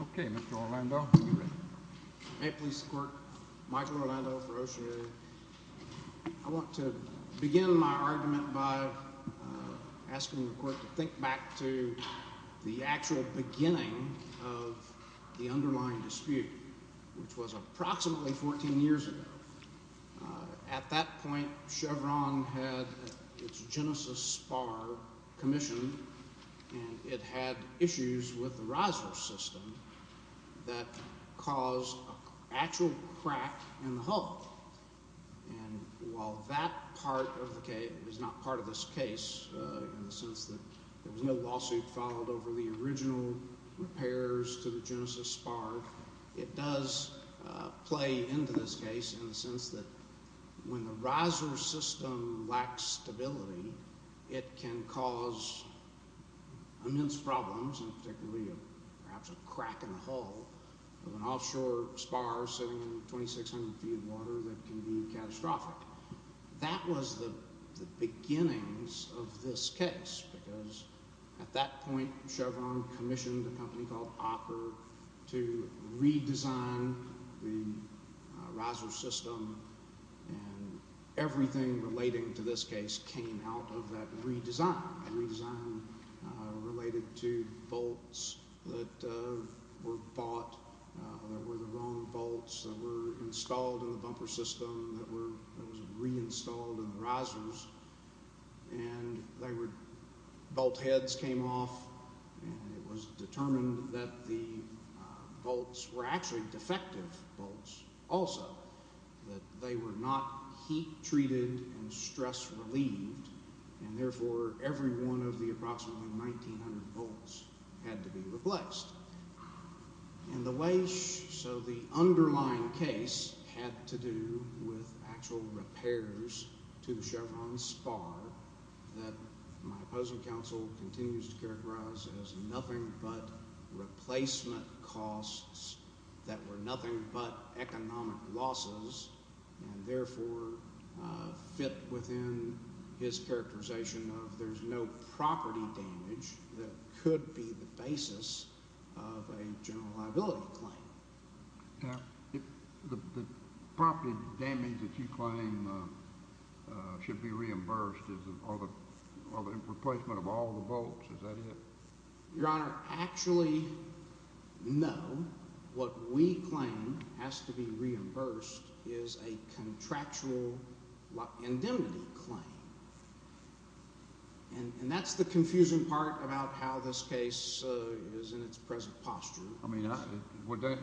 OCEANEERING CO. v. Oceaneering Interna May it please the Court, Michael Orlando for Oceaneering. I want to begin my argument by asking the Court to think back to the actual beginning of the underlying dispute, which was approximately 14 years ago. At that point, Chevron had its Genesis spar commissioned, and it had issues with the riser system that caused an actual crack in the hull. And while that part of the case is not part of this case in the sense that there was no lawsuit filed over the original repairs to the Genesis spar, it does play into this case in the sense that when the riser system lacks stability, it can cause immense problems, and particularly perhaps a crack in the hull of an offshore spar sitting in 2600 feet of water that can be catastrophic. That was the beginnings of this case, because at that point Chevron commissioned a company called Ocker to redesign the riser system, and everything relating to this case came out of that redesign. The redesign related to bolts that were bought, that were the wrong bolts, that were installed in the bumper system, that were reinstalled in the risers, and bolt heads came off, and it was determined that the bolts were actually defective bolts also, that they were not heat treated and stress relieved, and therefore every one of the approximately 1900 bolts had to be replaced. So the underlying case had to do with actual repairs to the Chevron spar that my opposing counsel continues to characterize as nothing but replacement costs that were nothing but economic losses and therefore fit within his characterization of there's no property damage that could be the basis of a general liability claim. Now, the property damage that you claim should be reimbursed or the replacement of all the bolts, is that it? Your Honor, actually, no. What we claim has to be reimbursed is a contractual indemnity claim, and that's the confusing part about how this case is in its present posture.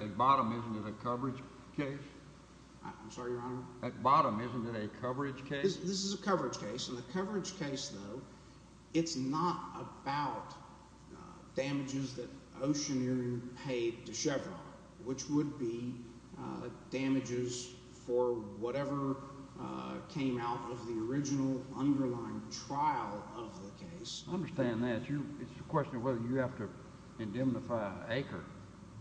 At bottom, isn't it a coverage case? I'm sorry, Your Honor? At bottom, isn't it a coverage case? This is a coverage case, and the coverage case, though, it's not about damages that Oceaneer paid to Chevron, which would be damages for whatever came out of the original underlying trial of the case. I understand that. It's a question of whether you have to indemnify an acre.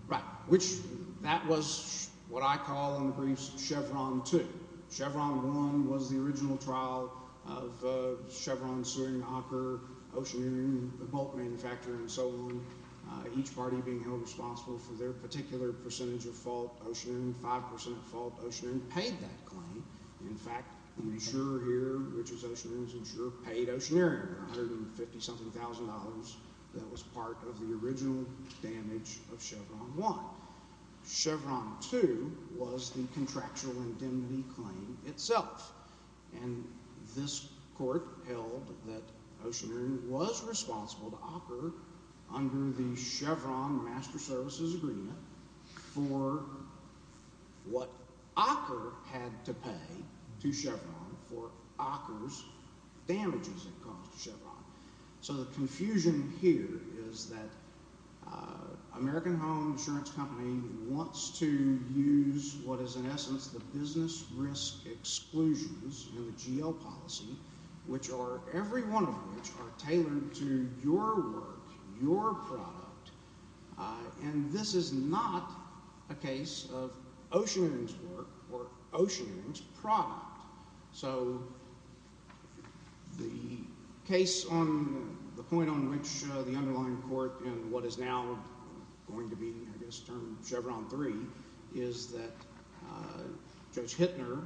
Right, which that was what I call in the briefs Chevron 2. Chevron 1 was the original trial of Chevron Seward & Ocker, Oceaneer, the bolt manufacturer, and so on, each party being held responsible for their particular percentage of fault. Oceaneer, 5% of fault. Oceaneer paid that claim. In fact, the insurer here, which is Oceaneer's insurer, paid Oceaneer $150-something thousand dollars that was part of the original damage of Chevron 1. Chevron 2 was the contractual indemnity claim itself, and this court held that Oceaneer was responsible to Ocker under the Chevron Master Services Agreement for what Ocker had to pay to Chevron for Ocker's damages it caused to Chevron. So the confusion here is that American Home Insurance Company wants to use what is in essence the business risk exclusions in the GL policy, which are – every one of which are tailored to your work, your product. And this is not a case of Oceaneer's work or Oceaneer's product. So the case on – the point on which the underlying court in what is now going to be, I guess, termed Chevron 3 is that Judge Hittner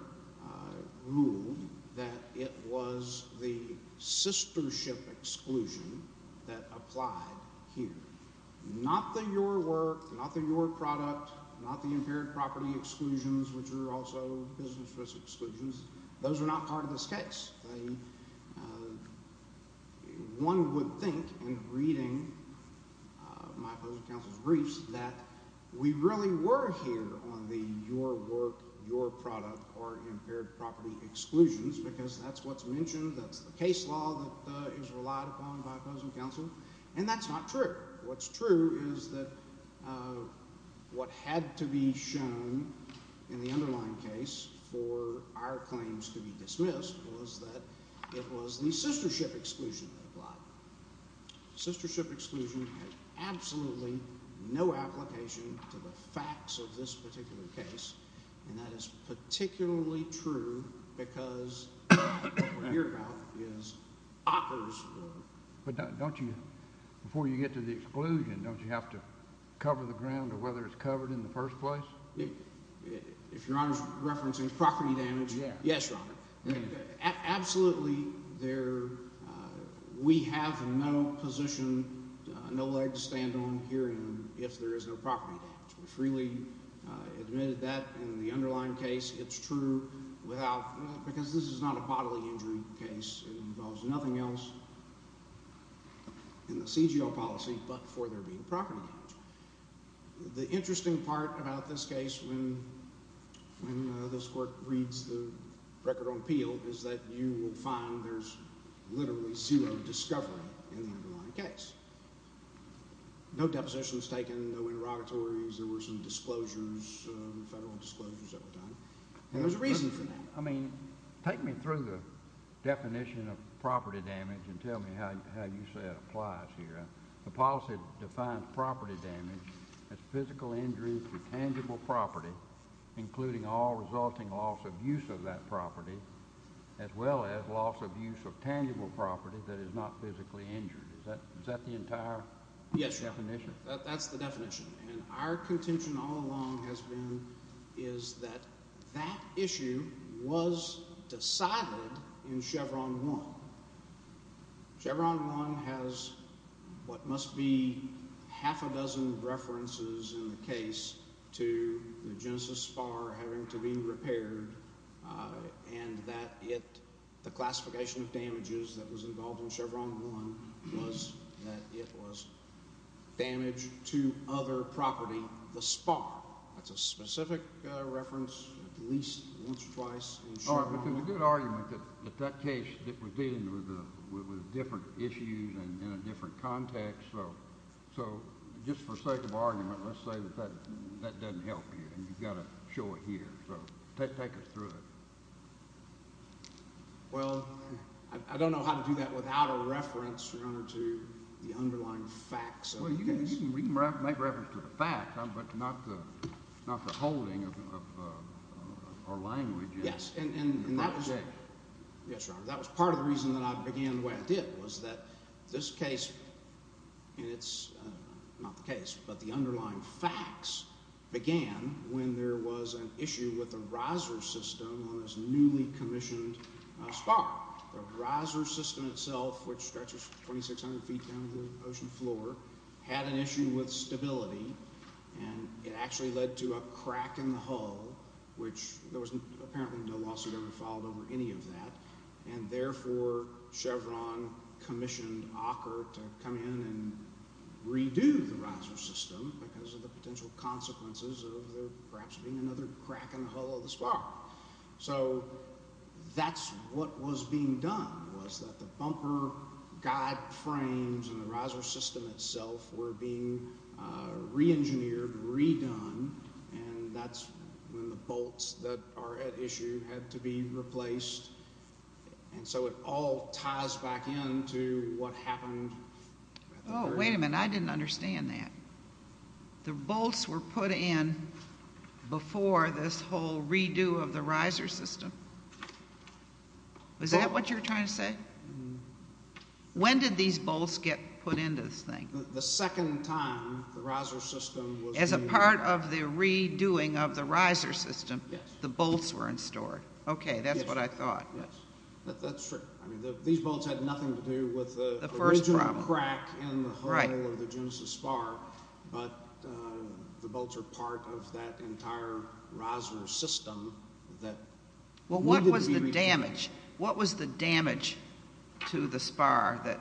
ruled that it was the sistership exclusion that applied here. Not the your work, not the your product, not the impaired property exclusions, which are also business risk exclusions. Those are not part of this case. One would think in reading my opposing counsel's briefs that we really were here on the your work, your product, or impaired property exclusions because that's what's mentioned. That's the case law that is relied upon by opposing counsel, and that's not true. What's true is that what had to be shown in the underlying case for our claims to be dismissed was that it was the sistership exclusion that applied. Sistership exclusion had absolutely no application to the facts of this particular case, and that is particularly true because what we're here about is Acker's work. But don't you – before you get to the exclusion, don't you have to cover the ground or whether it's covered in the first place? If Your Honor is referencing property damage, yes, Your Honor. Absolutely there – we have no position, no leg to stand on here if there is no property damage. We freely admitted that in the underlying case. It's true without – because this is not a bodily injury case. It involves nothing else in the CGO policy but for there being property damage. The interesting part about this case when this Court reads the record on Peel is that you will find there's literally zero discovery in the underlying case. No depositions taken, no interrogatories. There were some disclosures, federal disclosures that were done, and there's a reason for that. I mean take me through the definition of property damage and tell me how you say it applies here. The policy defines property damage as physical injury to tangible property, including all resulting loss of use of that property, as well as loss of use of tangible property that is not physically injured. Is that the entire definition? Yes, Your Honor. That's the definition. And our contention all along has been is that that issue was decided in Chevron 1. Chevron 1 has what must be half a dozen references in the case to the Genesis spar having to be repaired and that the classification of damages that was involved in Chevron 1 was that it was damage to other property, the spar. That's a specific reference at least once or twice in Chevron 1. All right, but there's a good argument that that case was dealing with different issues and in a different context. So just for sake of argument, let's say that that doesn't help you and you've got to show it here. So take us through it. Well, I don't know how to do that without a reference, Your Honor, to the underlying facts of the case. Well, you can make reference to the facts but not the holding of our language in the right way. Yes, and that was part of the reason that I began the way I did was that this case, and it's not the case, but the underlying facts began when there was an issue with the riser system on this newly commissioned spar. The riser system itself, which stretches 2,600 feet down to the ocean floor, had an issue with stability, and it actually led to a crack in the hull, which there was apparently no lawsuit ever filed over any of that, and therefore Chevron commissioned Ocker to come in and redo the riser system because of the potential consequences of there perhaps being another crack in the hull of the spar. So that's what was being done was that the bumper guide frames and the riser system itself were being reengineered, redone, and that's when the bolts that are at issue had to be replaced, and so it all ties back in to what happened. Oh, wait a minute. I didn't understand that. The bolts were put in before this whole redo of the riser system? Is that what you're trying to say? The second time the riser system was— As a part of the redoing of the riser system? Yes. The bolts were in store? Yes. Okay, that's what I thought. That's true. These bolts had nothing to do with the original crack in the hull of the Genesis spar, but the bolts are part of that entire riser system that needed to be— Well, what was the damage? What was the damage to the spar that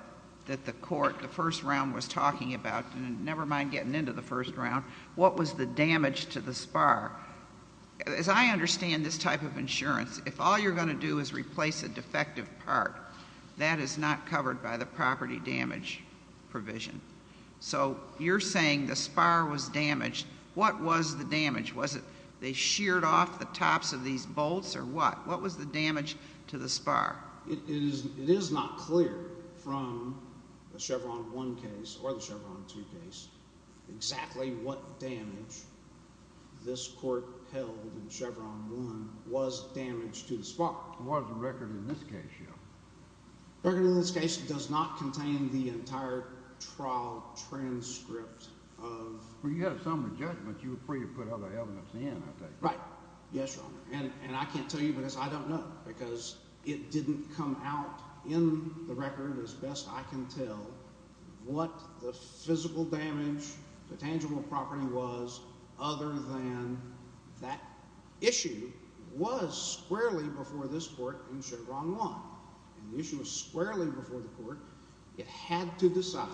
the court the first round was talking about? Never mind getting into the first round. What was the damage to the spar? As I understand this type of insurance, if all you're going to do is replace a defective part, that is not covered by the property damage provision. What was the damage? Was it they sheared off the tops of these bolts or what? What was the damage to the spar? It is not clear from the Chevron 1 case or the Chevron 2 case exactly what damage this court held in Chevron 1 was damage to the spar. It was the record in this case, yes. The record in this case does not contain the entire trial transcript of— Well, you had a summary judgment. You were free to put other evidence in, I take it. Right. Yes, Your Honor. And I can't tell you because I don't know because it didn't come out in the record, as best I can tell, what the physical damage, the tangible property was, other than that issue was squarely before this court in Chevron 1. And the issue was squarely before the court. It had to decide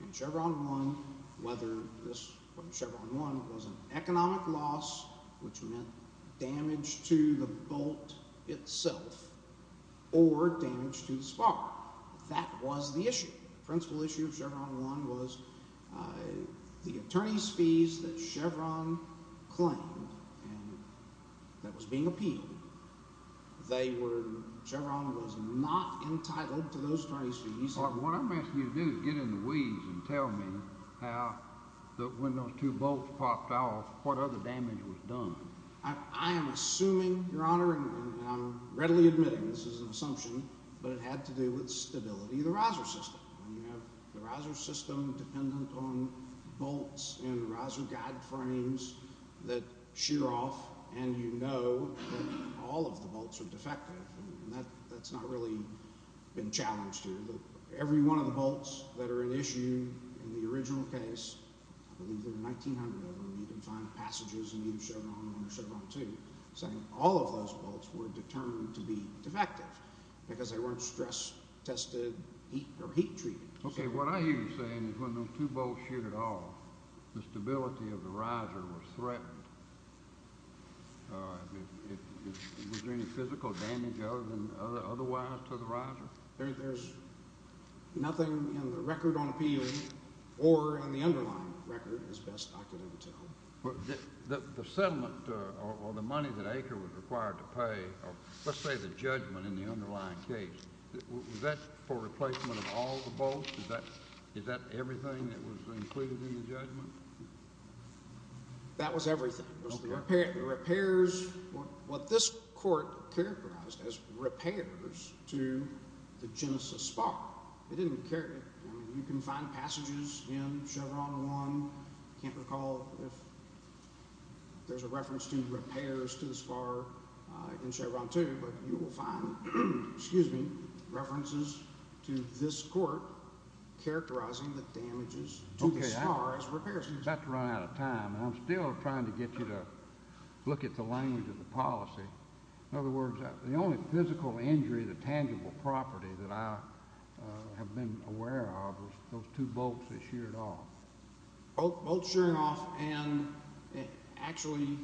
in Chevron 1 whether this Chevron 1 was an economic loss, which meant damage to the bolt itself, or damage to the spar. That was the issue. The principal issue of Chevron 1 was the attorney's fees that Chevron claimed that was being appealed. They were—Chevron was not entitled to those attorney's fees. What I'm asking you to do is get in the weeds and tell me how—when those two bolts popped off, what other damage was done. I am assuming, Your Honor, and I'm readily admitting this is an assumption, but it had to do with stability of the riser system. When you have the riser system dependent on bolts and riser guide frames that shear off and you know that all of the bolts are defective, that's not really been challenged here. Every one of the bolts that are an issue in the original case, I believe there were 1,900 of them, you can find passages in either Chevron 1 or Chevron 2 saying all of those bolts were determined to be defective because they weren't stress-tested or heat-treated. Okay, what I hear you saying is when those two bolts sheared off, the stability of the riser was threatened. Was there any physical damage other than otherwise to the riser? There's nothing in the record on appealing or in the underlying record, as best I could ever tell. The settlement or the money that Acre was required to pay, let's say the judgment in the underlying case, was that for replacement of all the bolts? Is that everything that was included in the judgment? That was everything. It was the repairs, what this court characterized as repairs to the Genesis spar. They didn't care. I mean, you can find passages in Chevron 1. I can't recall if there's a reference to repairs to the spar in Chevron 2, but you will find references to this court characterizing the damages to the spar as repairs. Okay, I'm about to run out of time, and I'm still trying to get you to look at the language of the policy. In other words, the only physical injury to tangible property that I have been aware of was those two bolts that sheared off. Bolts shearing off, and actually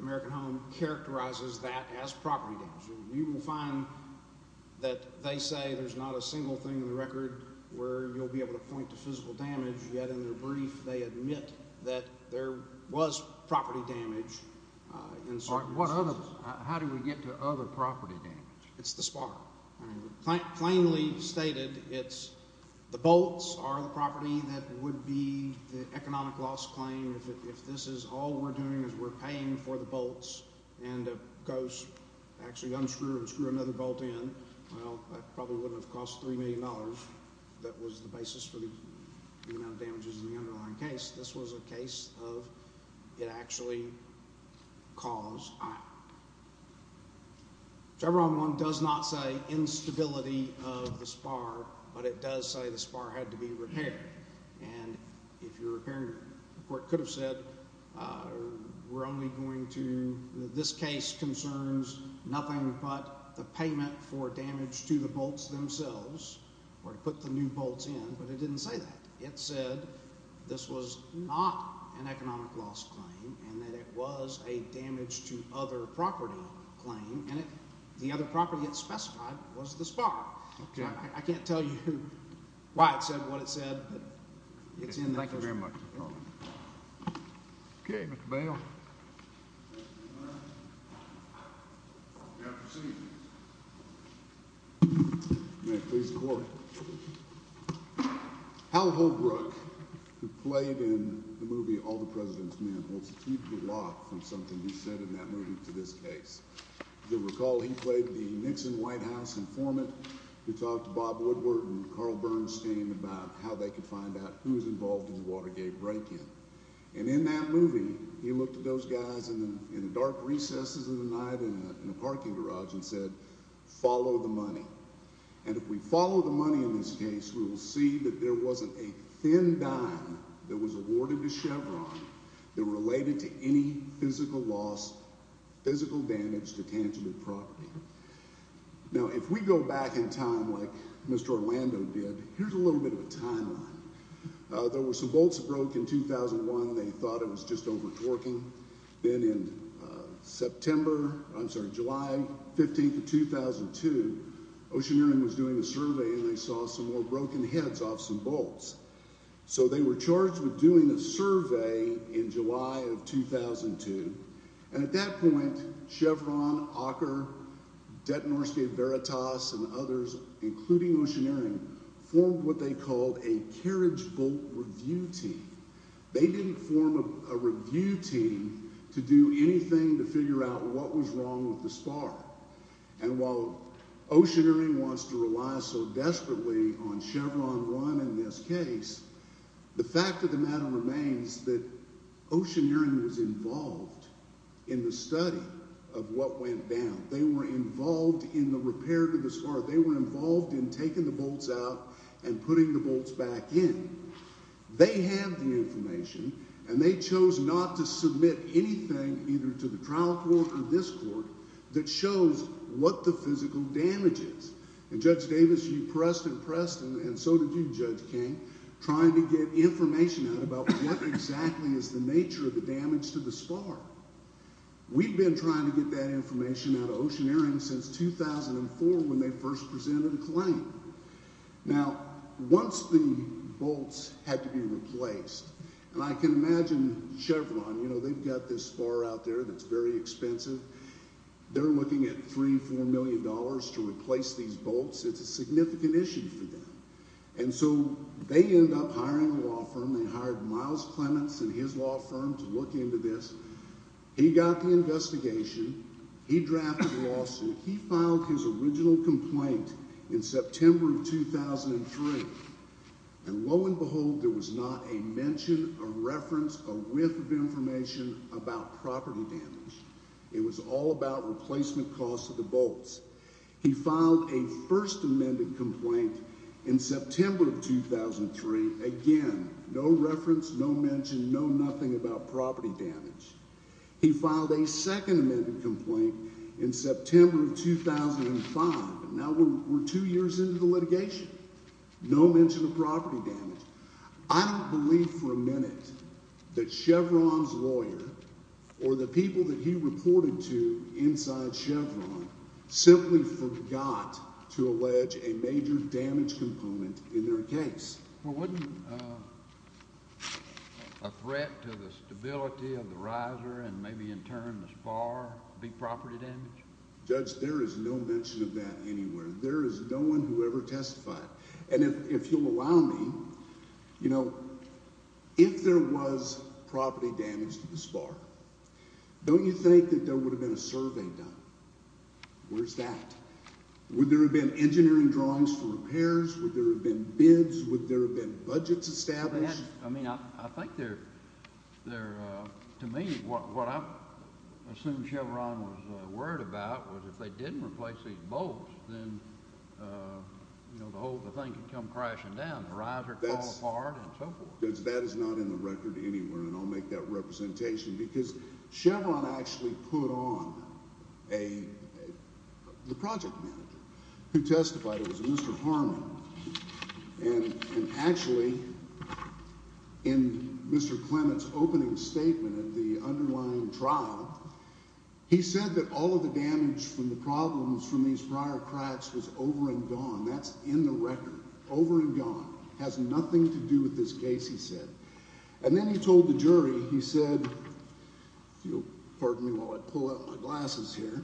American Home characterizes that as property damage. You will find that they say there's not a single thing in the record where you'll be able to point to physical damage, yet in their brief they admit that there was property damage in certain instances. How do we get to other property damage? It's the spar. Plainly stated, it's the bolts are the property that would be the economic loss claim if this is all we're doing is we're paying for the bolts and actually unscrew and screw another bolt in. Well, that probably wouldn't have cost $3 million. That was the basis for the amount of damages in the underlying case. This was a case of it actually caused. Chevron 1 does not say instability of the spar, but it does say the spar had to be repaired, and if you're repairing it, the court could have said we're only going to, this case concerns nothing but the payment for damage to the bolts themselves, or to put the new bolts in, but it didn't say that. It said this was not an economic loss claim and that it was a damage to other property claim, and the other property it specified was the spar. Okay. I can't tell you why it said what it said, but it's in there. Thank you very much. Okay, Mr. Bale. May I proceed? May it please the court. Hal Holbrook, who played in the movie All the President's Men, holds a key block from something he said in that movie to this case. You'll recall he played the Nixon White House informant who talked to Bob Woodward and Carl Bernstein about how they could find out who was involved in the Watergate break-in, and in that movie he looked at those guys in the dark recesses of the night in a parking garage and said, follow the money, and if we follow the money in this case, we will see that there wasn't a thin dime that was awarded to Chevron that related to any physical loss, physical damage to tangible property. Now, if we go back in time like Mr. Orlando did, here's a little bit of a timeline. There were some bolts that broke in 2001. They thought it was just over-torquing. Then in September, I'm sorry, July 15th of 2002, Oceaneering was doing a survey and they saw some more broken heads off some bolts. So they were charged with doing a survey in July of 2002, and at that point Chevron, Auker, Detonorscape Veritas, and others, including Oceaneering, formed what they called a carriage bolt review team. They didn't form a review team to do anything to figure out what was wrong with the spar. And while Oceaneering wants to rely so desperately on Chevron Run in this case, the fact of the matter remains that Oceaneering was involved in the study of what went down. They were involved in the repair to the spar. They were involved in taking the bolts out and putting the bolts back in. They have the information, and they chose not to submit anything either to the trial court or this court that shows what the physical damage is. And Judge Davis, you pressed and pressed, and so did you, Judge King, trying to get information out about what exactly is the nature of the damage to the spar. We've been trying to get that information out of Oceaneering since 2004 when they first presented a claim. Now, once the bolts had to be replaced, and I can imagine Chevron, you know, they've got this spar out there that's very expensive. They're looking at $3 million, $4 million to replace these bolts. It's a significant issue for them. And so they end up hiring a law firm. They hired Miles Clements and his law firm to look into this. He got the investigation. He drafted a lawsuit. He filed his original complaint in September of 2003. And lo and behold, there was not a mention, a reference, a whiff of information about property damage. It was all about replacement costs of the bolts. He filed a first amended complaint in September of 2003. Again, no reference, no mention, no nothing about property damage. He filed a second amended complaint in September of 2005. Now we're two years into the litigation. No mention of property damage. I don't believe for a minute that Chevron's lawyer or the people that he reported to inside Chevron simply forgot to allege a major damage component in their case. Well, wouldn't a threat to the stability of the riser and maybe in turn the spar be property damage? Judge, there is no mention of that anywhere. There is no one who ever testified. And if you'll allow me, you know, if there was property damage to the spar, don't you think that there would have been a survey done? Where's that? Would there have been engineering drawings for repairs? Would there have been bids? Would there have been budgets established? I mean, I think they're, to me, what I assume Chevron was worried about was if they didn't replace these bolts, then, you know, the whole thing could come crashing down. The riser could fall apart and so forth. That is not in the record anywhere, and I'll make that representation, because Chevron actually put on the project manager who testified. It was Mr. Harmon. And actually, in Mr. Clement's opening statement at the underlying trial, he said that all of the damage from the problems from these prior cracks was over and gone. That's in the record. Over and gone. It has nothing to do with this case, he said. And then he told the jury, he said, if you'll pardon me while I pull out my glasses here,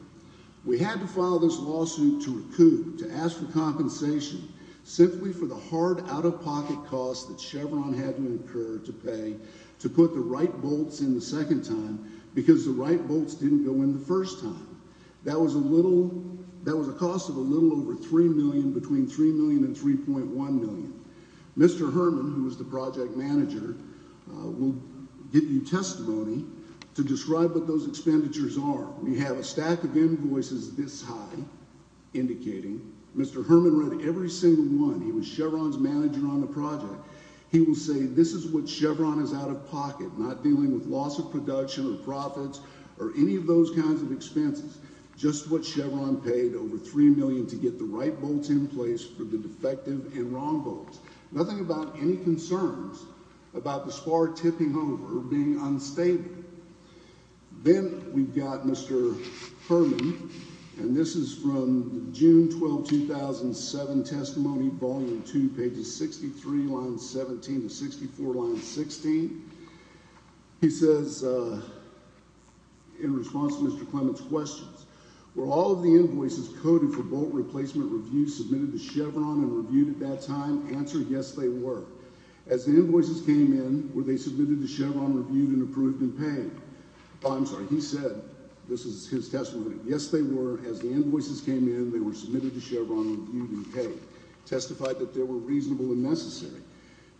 We had to file this lawsuit to recoup, to ask for compensation, simply for the hard out-of-pocket costs that Chevron had to incur to pay to put the right bolts in the second time, because the right bolts didn't go in the first time. That was a little, that was a cost of a little over $3 million, between $3 million and $3.1 million. Mr. Harmon, who was the project manager, will give you testimony to describe what those expenditures are. We have a stack of invoices this high, indicating. Mr. Herman read every single one. He was Chevron's manager on the project. He will say this is what Chevron is out-of-pocket, not dealing with loss of production or profits or any of those kinds of expenses, just what Chevron paid over $3 million to get the right bolts in place for the defective and wrong bolts. Nothing about any concerns about the spar tipping over or being unstable. Then we've got Mr. Herman, and this is from June 12, 2007, testimony, volume 2, pages 63, lines 17 to 64, line 16. He says, in response to Mr. Clement's questions, were all of the invoices coded for bolt replacement review submitted to Chevron and reviewed at that time? Answer, yes, they were. As the invoices came in, were they submitted to Chevron, reviewed, and approved and paid? I'm sorry, he said, this is his testimony, yes, they were. As the invoices came in, they were submitted to Chevron, reviewed, and paid. Testified that they were reasonable and necessary.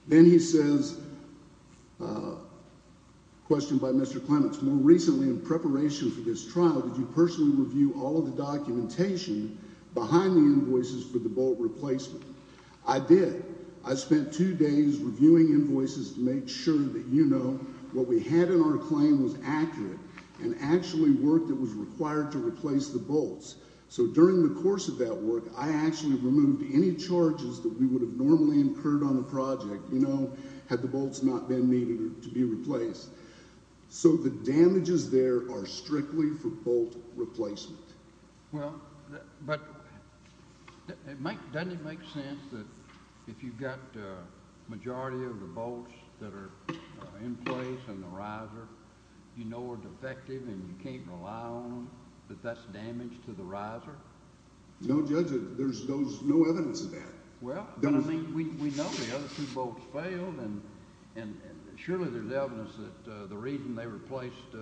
Then he says, questioned by Mr. Clement, more recently in preparation for this trial, did you personally review all of the documentation behind the invoices for the bolt replacement? I did. I spent two days reviewing invoices to make sure that, you know, what we had in our claim was accurate and actually work that was required to replace the bolts. So during the course of that work, I actually removed any charges that we would have normally incurred on the project, you know, had the bolts not been needed to be replaced. So the damages there are strictly for bolt replacement. Well, but doesn't it make sense that if you've got the majority of the bolts that are in place in the riser, you know are defective and you can't rely on them, that that's damage to the riser? No, Judge, there's no evidence of that. Well, I mean, we know the other two bolts failed, and surely there's evidence that the reason they replaced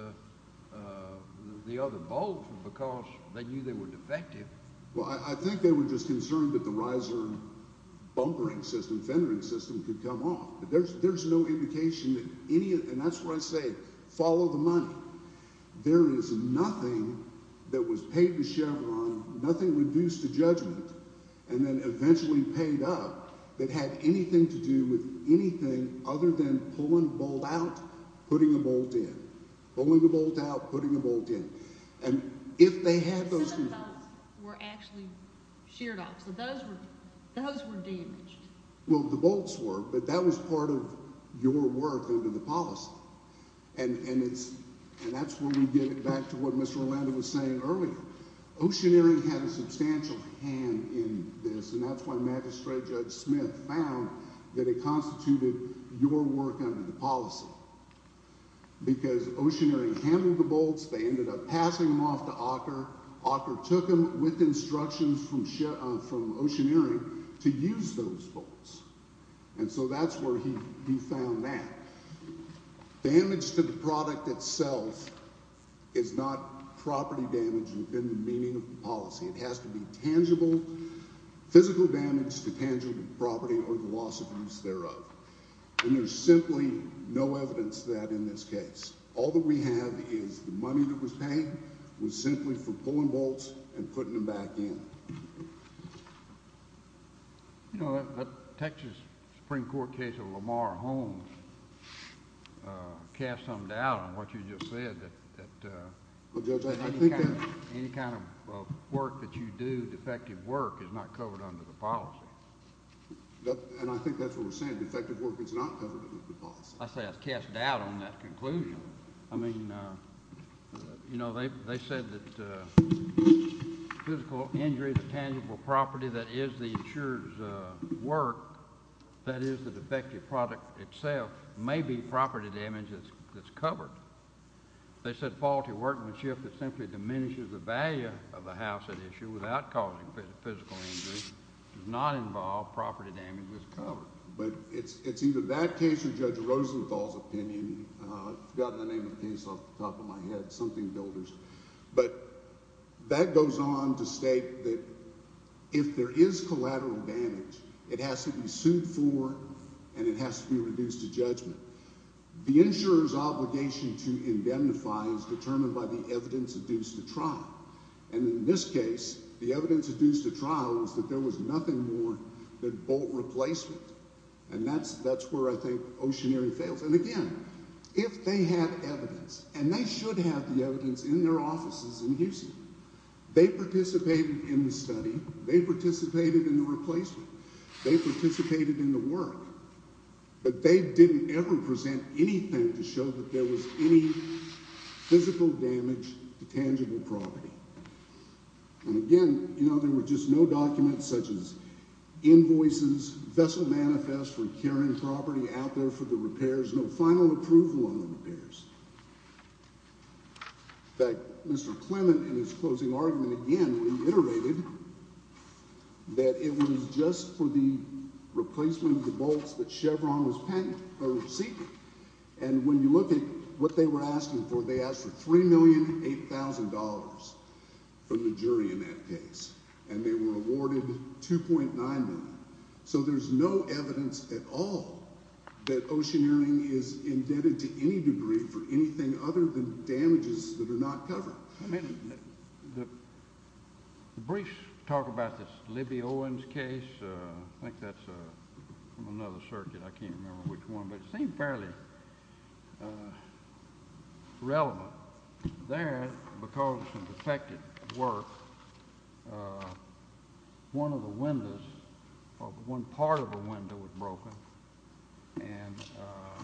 the other bolts was because they knew they were defective. Well, I think they were just concerned that the riser bumpering system, fendering system could come off. There's no indication that any of it, and that's where I say follow the money. There is nothing that was paid to Chevron, nothing reduced to judgment, and then eventually paid up that had anything to do with anything other than pulling a bolt out, putting a bolt in. Pulling a bolt out, putting a bolt in. And if they had those two bolts. The cylinder bolts were actually sheared off, so those were damaged. Well, the bolts were, but that was part of your work under the policy, and that's where we get back to what Mr. Orlando was saying earlier. Oceaneering had a substantial hand in this, and that's why Magistrate Judge Smith found that it constituted your work under the policy. Because Oceaneering handled the bolts. They ended up passing them off to Auker. Auker took them with instructions from Oceaneering to use those bolts, and so that's where he found that. Damage to the product itself is not property damage within the meaning of the policy. It has to be tangible, physical damage to tangible property or the loss of use thereof. And there's simply no evidence of that in this case. All that we have is the money that was paid was simply for pulling bolts and putting them back in. You know, the Texas Supreme Court case of Lamar Holmes cast some doubt on what you just said that any kind of work that you do, defective work, is not covered under the policy. And I think that's what we're saying. Defective work is not covered under the policy. I say I've cast doubt on that conclusion. I mean, you know, they said that physical injury to tangible property that is the insurer's work, that is the defective product itself, may be property damage that's covered. They said faulty workmanship that simply diminishes the value of the house at issue without causing physical injury does not involve property damage that's covered. But it's either that case or Judge Rosenthal's opinion. I've forgotten the name of the case off the top of my head, something builders. But that goes on to state that if there is collateral damage, it has to be sued for and it has to be reduced to judgment. The insurer's obligation to indemnify is determined by the evidence adduced to trial. And in this case, the evidence adduced to trial was that there was nothing more than bolt replacement. And that's that's where I think Oceanary fails. And again, if they have evidence and they should have the evidence in their offices in Houston, they participated in the study. They participated in the replacement. They participated in the work, but they didn't ever present anything to show that there was any physical damage to tangible property. And again, you know, there were just no documents such as invoices, vessel manifest for carrying property out there for the repairs, no final approval on the repairs. But Mr. Clement in his closing argument again reiterated that it was just for the replacement of the bolts that Chevron was patent or seeking. And when you look at what they were asking for, they asked for three million eight thousand dollars from the jury in that case, and they were awarded two point nine. So there's no evidence at all that Oceanary is indebted to any degree for anything other than damages that are not covered. The brief talk about this Libby Owens case, I think that's another circuit. I can't remember which one, but it seems fairly relevant there because of the affected work. One of the windows of one part of the window was broken and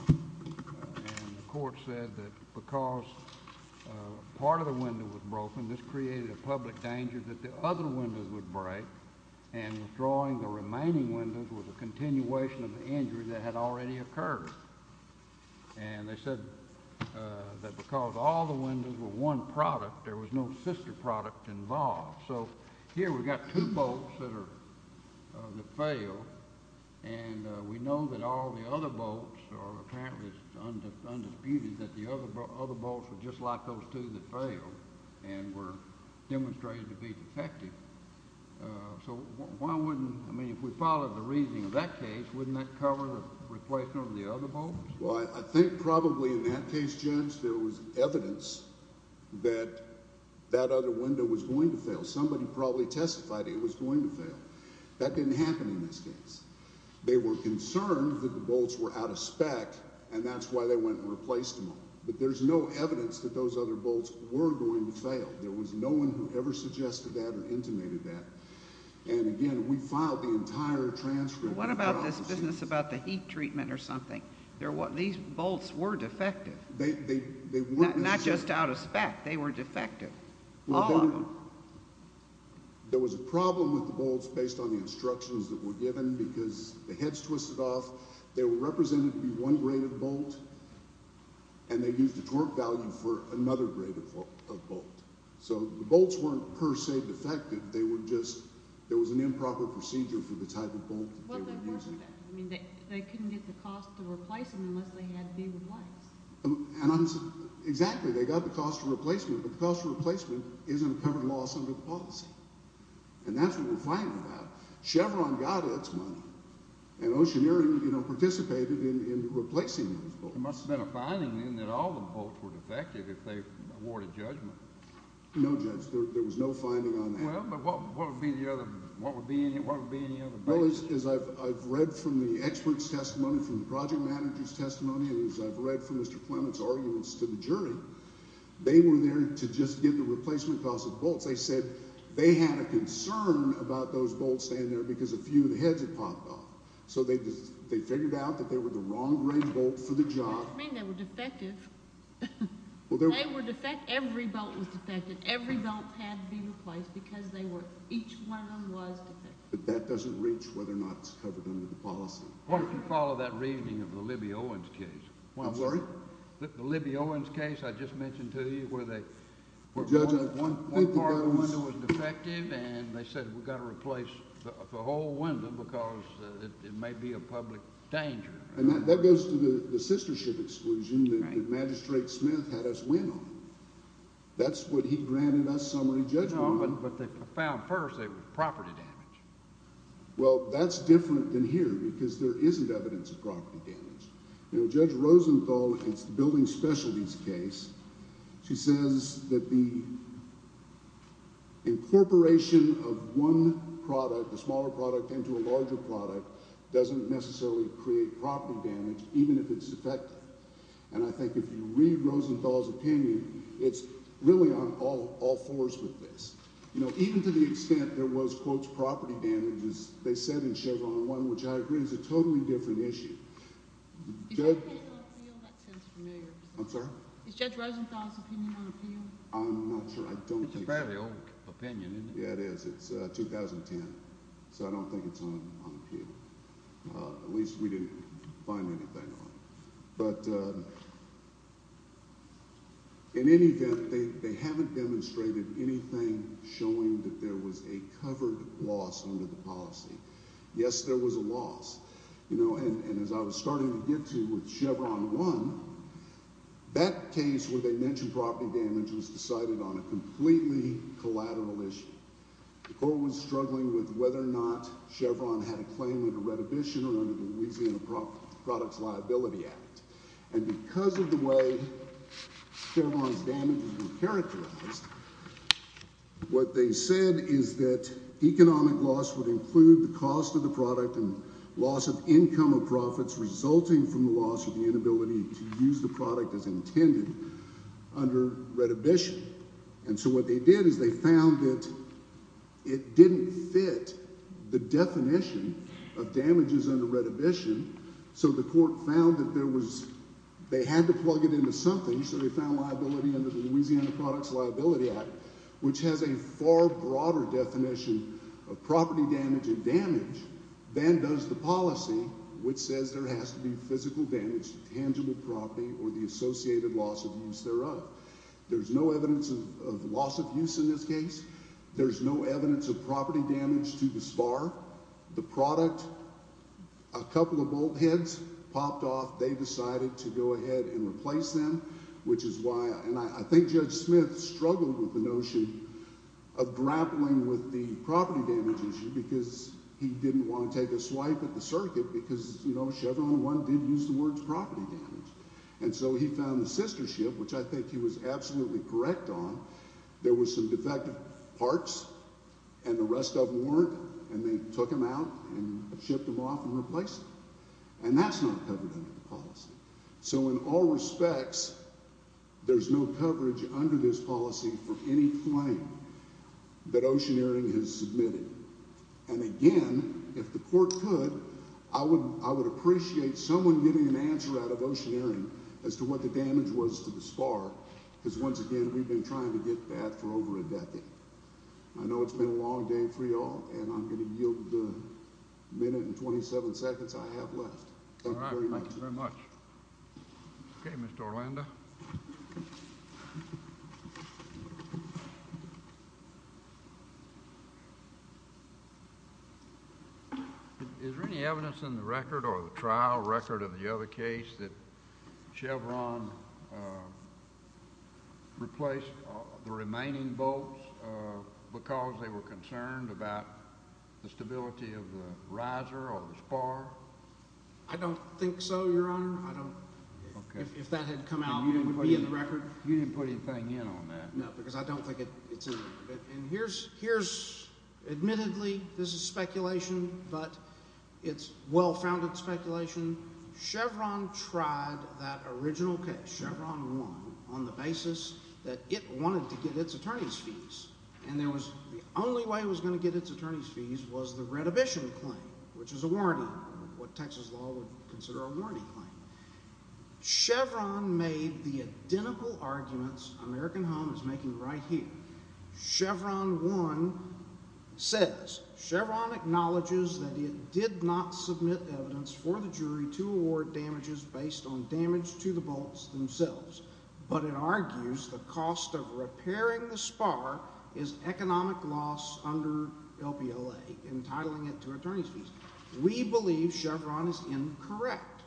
the court said that because part of the window was broken, this created a public danger that the other windows would break. And drawing the remaining windows was a continuation of the injury that had already occurred. And they said that because all the windows were one product, there was no sister product involved. So here we've got two bolts that are, that fail. And we know that all the other bolts are apparently undisputed, that the other bolts were just like those two that failed and were demonstrated to be defective. So why wouldn't, I mean, if we followed the reasoning of that case, wouldn't that cover the replacement of the other bolts? Well, I think probably in that case, Judge, there was evidence that that other window was going to fail. Somebody probably testified it was going to fail. That didn't happen in this case. They were concerned that the bolts were out of spec, and that's why they went and replaced them all. But there's no evidence that those other bolts were going to fail. There was no one who ever suggested that or intimated that. And again, we filed the entire transcript. What about this business about the heat treatment or something? These bolts were defective, not just out of spec. They were defective, all of them. There was a problem with the bolts based on the instructions that were given because the heads twisted off. They were represented to be one grade of bolt, and they used the torque value for another grade of bolt. So the bolts weren't per se defective. There was an improper procedure for the type of bolt that they were using. They couldn't get the cost to replace them unless they had to be replaced. Exactly. They got the cost of replacement, but the cost of replacement isn't a covered loss under the policy. And that's what we're finding about. Chevron got its money, and Oceaneering participated in replacing those bolts. There must have been a finding then that all the bolts were defective if they awarded judgment. No, Judge, there was no finding on that. Well, but what would be any other? Well, as I've read from the expert's testimony, from the project manager's testimony, and as I've read from Mr. Clement's arguments to the jury, they were there to just get the replacement cost of the bolts. They said they had a concern about those bolts staying there because a few of the heads had popped off. So they figured out that they were the wrong grade bolt for the job. What do you mean they were defective? They were defective. Every bolt was defective. And every bolt had to be replaced because each one of them was defective. But that doesn't reach whether or not it's covered under the policy. Why don't you follow that reasoning of the Libby Owens case? I'm sorry? The Libby Owens case I just mentioned to you where one part of the window was defective, and they said we've got to replace the whole window because it may be a public danger. And that goes to the sistership exclusion that Magistrate Smith had us win on. That's what he granted us summary judgment on. No, but they found first it was property damage. Well, that's different than here because there isn't evidence of property damage. Judge Rosenthal, in the building specialties case, she says that the incorporation of one product, a smaller product, into a larger product doesn't necessarily create property damage even if it's effective. And I think if you read Rosenthal's opinion, it's really on all fours with this. Even to the extent there was, quote, property damage, as they said in Chevron 1, which I agree is a totally different issue. Is Judge Rosenthal's opinion on appeal? I'm not sure. It's a fairly old opinion, isn't it? Yeah, it is. It's 2010. So I don't think it's on appeal. At least we didn't find anything on it. But in any event, they haven't demonstrated anything showing that there was a covered loss under the policy. Yes, there was a loss. And as I was starting to get to with Chevron 1, that case where they mentioned property damage was decided on a completely collateral issue. The court was struggling with whether or not Chevron had a claim under Redhibition or under the Louisiana Products Liability Act. And because of the way Chevron's damages were characterized, what they said is that economic loss would include the cost of the product and loss of income or profits resulting from the loss or the inability to use the product as intended under Redhibition. And so what they did is they found that it didn't fit the definition of damages under Redhibition. So the court found that there was – they had to plug it into something. So they found liability under the Louisiana Products Liability Act, which has a far broader definition of property damage and damage than does the policy, which says there has to be physical damage to tangible property or the associated loss of use thereof. There's no evidence of loss of use in this case. There's no evidence of property damage to this bar. The product – a couple of bolt heads popped off. They decided to go ahead and replace them, which is why – and I think Judge Smith struggled with the notion of grappling with the property damage issue because he didn't want to take a swipe at the circuit because Chevron 1 did use the words property damage. And so he found the sister ship, which I think he was absolutely correct on. There were some defective parts, and the rest of them weren't, and they took them out and shipped them off and replaced them. And that's not covered under the policy. So in all respects, there's no coverage under this policy for any claim that Oceaneering has submitted. And again, if the court could, I would appreciate someone giving an answer out of Oceaneering as to what the damage was to this bar because once again, we've been trying to get that for over a decade. I know it's been a long day for you all, and I'm going to yield the minute and 27 seconds I have left. Thank you very much. All right. Thank you very much. Okay, Mr. Orlando. Is there any evidence in the record or the trial record of the other case that Chevron replaced the remaining bolts because they were concerned about the stability of the riser or the spar? I don't think so, Your Honor. If that had come out, it would be in the record. You didn't put anything in on that. No, because I don't think it's in there. Admittedly, this is speculation, but it's well-founded speculation. Chevron tried that original case. Chevron won on the basis that it wanted to get its attorneys' fees, and the only way it was going to get its attorneys' fees was the redhibition claim, which is a warranty, what Texas law would consider a warranty claim. Chevron made the identical arguments American Home is making right here. Chevron 1 says, Chevron acknowledges that it did not submit evidence for the jury to award damages based on damage to the bolts themselves, but it argues the cost of repairing the spar is economic loss under LPLA, entitling it to attorneys' fees. We believe Chevron is incorrect.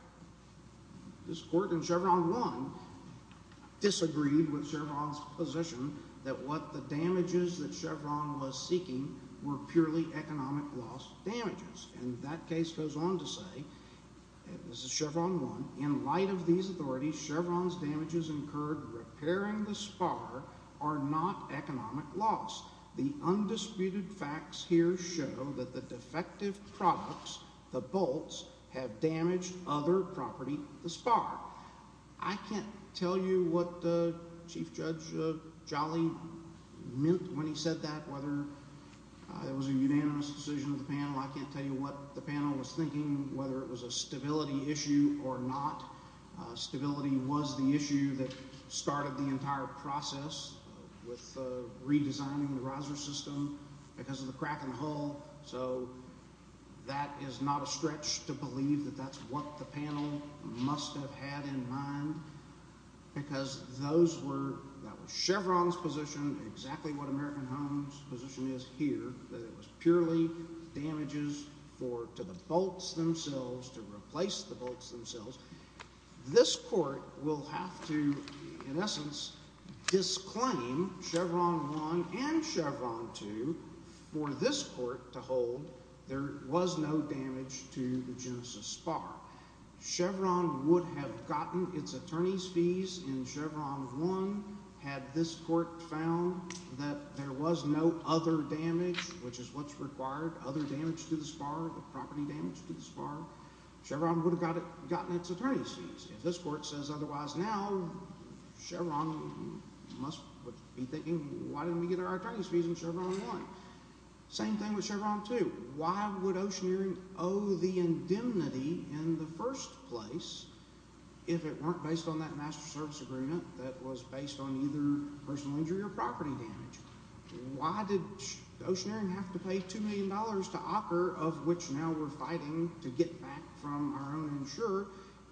This court in Chevron 1 disagreed with Chevron's position that what the damages that Chevron was seeking were purely economic loss damages, and that case goes on to say, this is Chevron 1, in light of these authorities, Chevron's damages incurred repairing the spar are not economic loss. The undisputed facts here show that the defective products, the bolts, have damaged other property, the spar. I can't tell you what Chief Judge Jolly meant when he said that, whether it was a unanimous decision of the panel. I can't tell you what the panel was thinking, whether it was a stability issue or not. Stability was the issue that started the entire process with redesigning the riser system because of the crack in the hull, so that is not a stretch to believe that that's what the panel must have had in mind, because that was Chevron's position, exactly what American Home's position is here, that it was purely damages to the bolts themselves, to replace the bolts themselves. This court will have to, in essence, disclaim Chevron 1 and Chevron 2 for this court to hold there was no damage to the Genesis spar. Chevron would have gotten its attorney's fees in Chevron 1 had this court found that there was no other damage, which is what's required, other damage to the spar, property damage to the spar. Chevron would have gotten its attorney's fees. If this court says otherwise now, Chevron must be thinking, why didn't we get our attorney's fees in Chevron 1? Same thing with Chevron 2. Why would Oceaneering owe the indemnity in the first place if it weren't based on that master service agreement that was based on either personal injury or property damage? Why did Oceaneering have to pay $2 million to Ocker, of which now we're fighting to get back from our own insurer,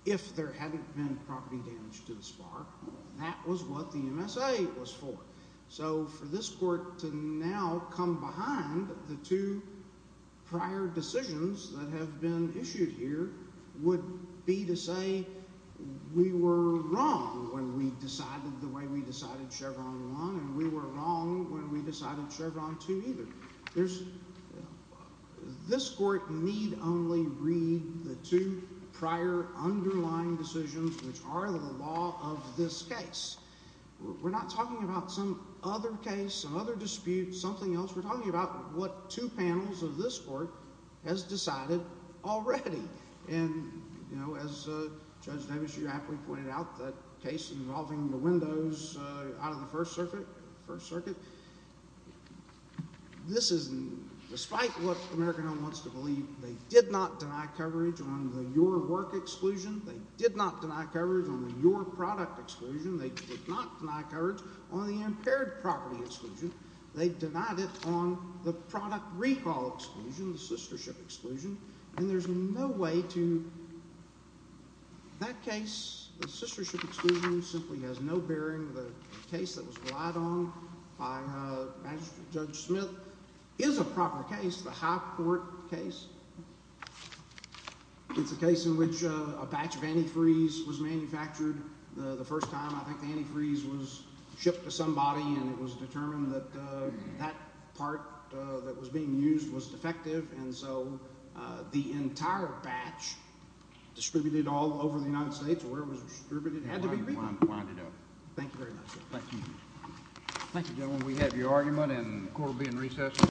if there hadn't been property damage to the spar? That was what the MSA was for. So for this court to now come behind the two prior decisions that have been issued here would be to say we were wrong when we decided the way we decided Chevron 1 and we were wrong when we decided Chevron 2 either. This court need only read the two prior underlying decisions, which are the law of this case. We're not talking about some other case, some other dispute, something else. We're talking about what two panels of this court has decided already. And as Judge Davis, you aptly pointed out, that case involving the windows out of the First Circuit, this is despite what American Home wants to believe. They did not deny coverage on the Your Work exclusion. They did not deny coverage on the Your Product exclusion. They did not deny coverage on the Impaired Property exclusion. They denied it on the Product Recall exclusion, the Sistership exclusion. And there's no way to – that case, the Sistership exclusion, simply has no bearing. The case that was relied on by Judge Smith is a proper case, the High Court case. It's a case in which a batch of antifreeze was manufactured. The first time I think the antifreeze was shipped to somebody and it was determined that that part that was being used was defective. And so the entire batch distributed all over the United States where it was distributed had to be removed. Thank you very much. Thank you. Thank you, gentlemen. We have your argument and the court will be in recess.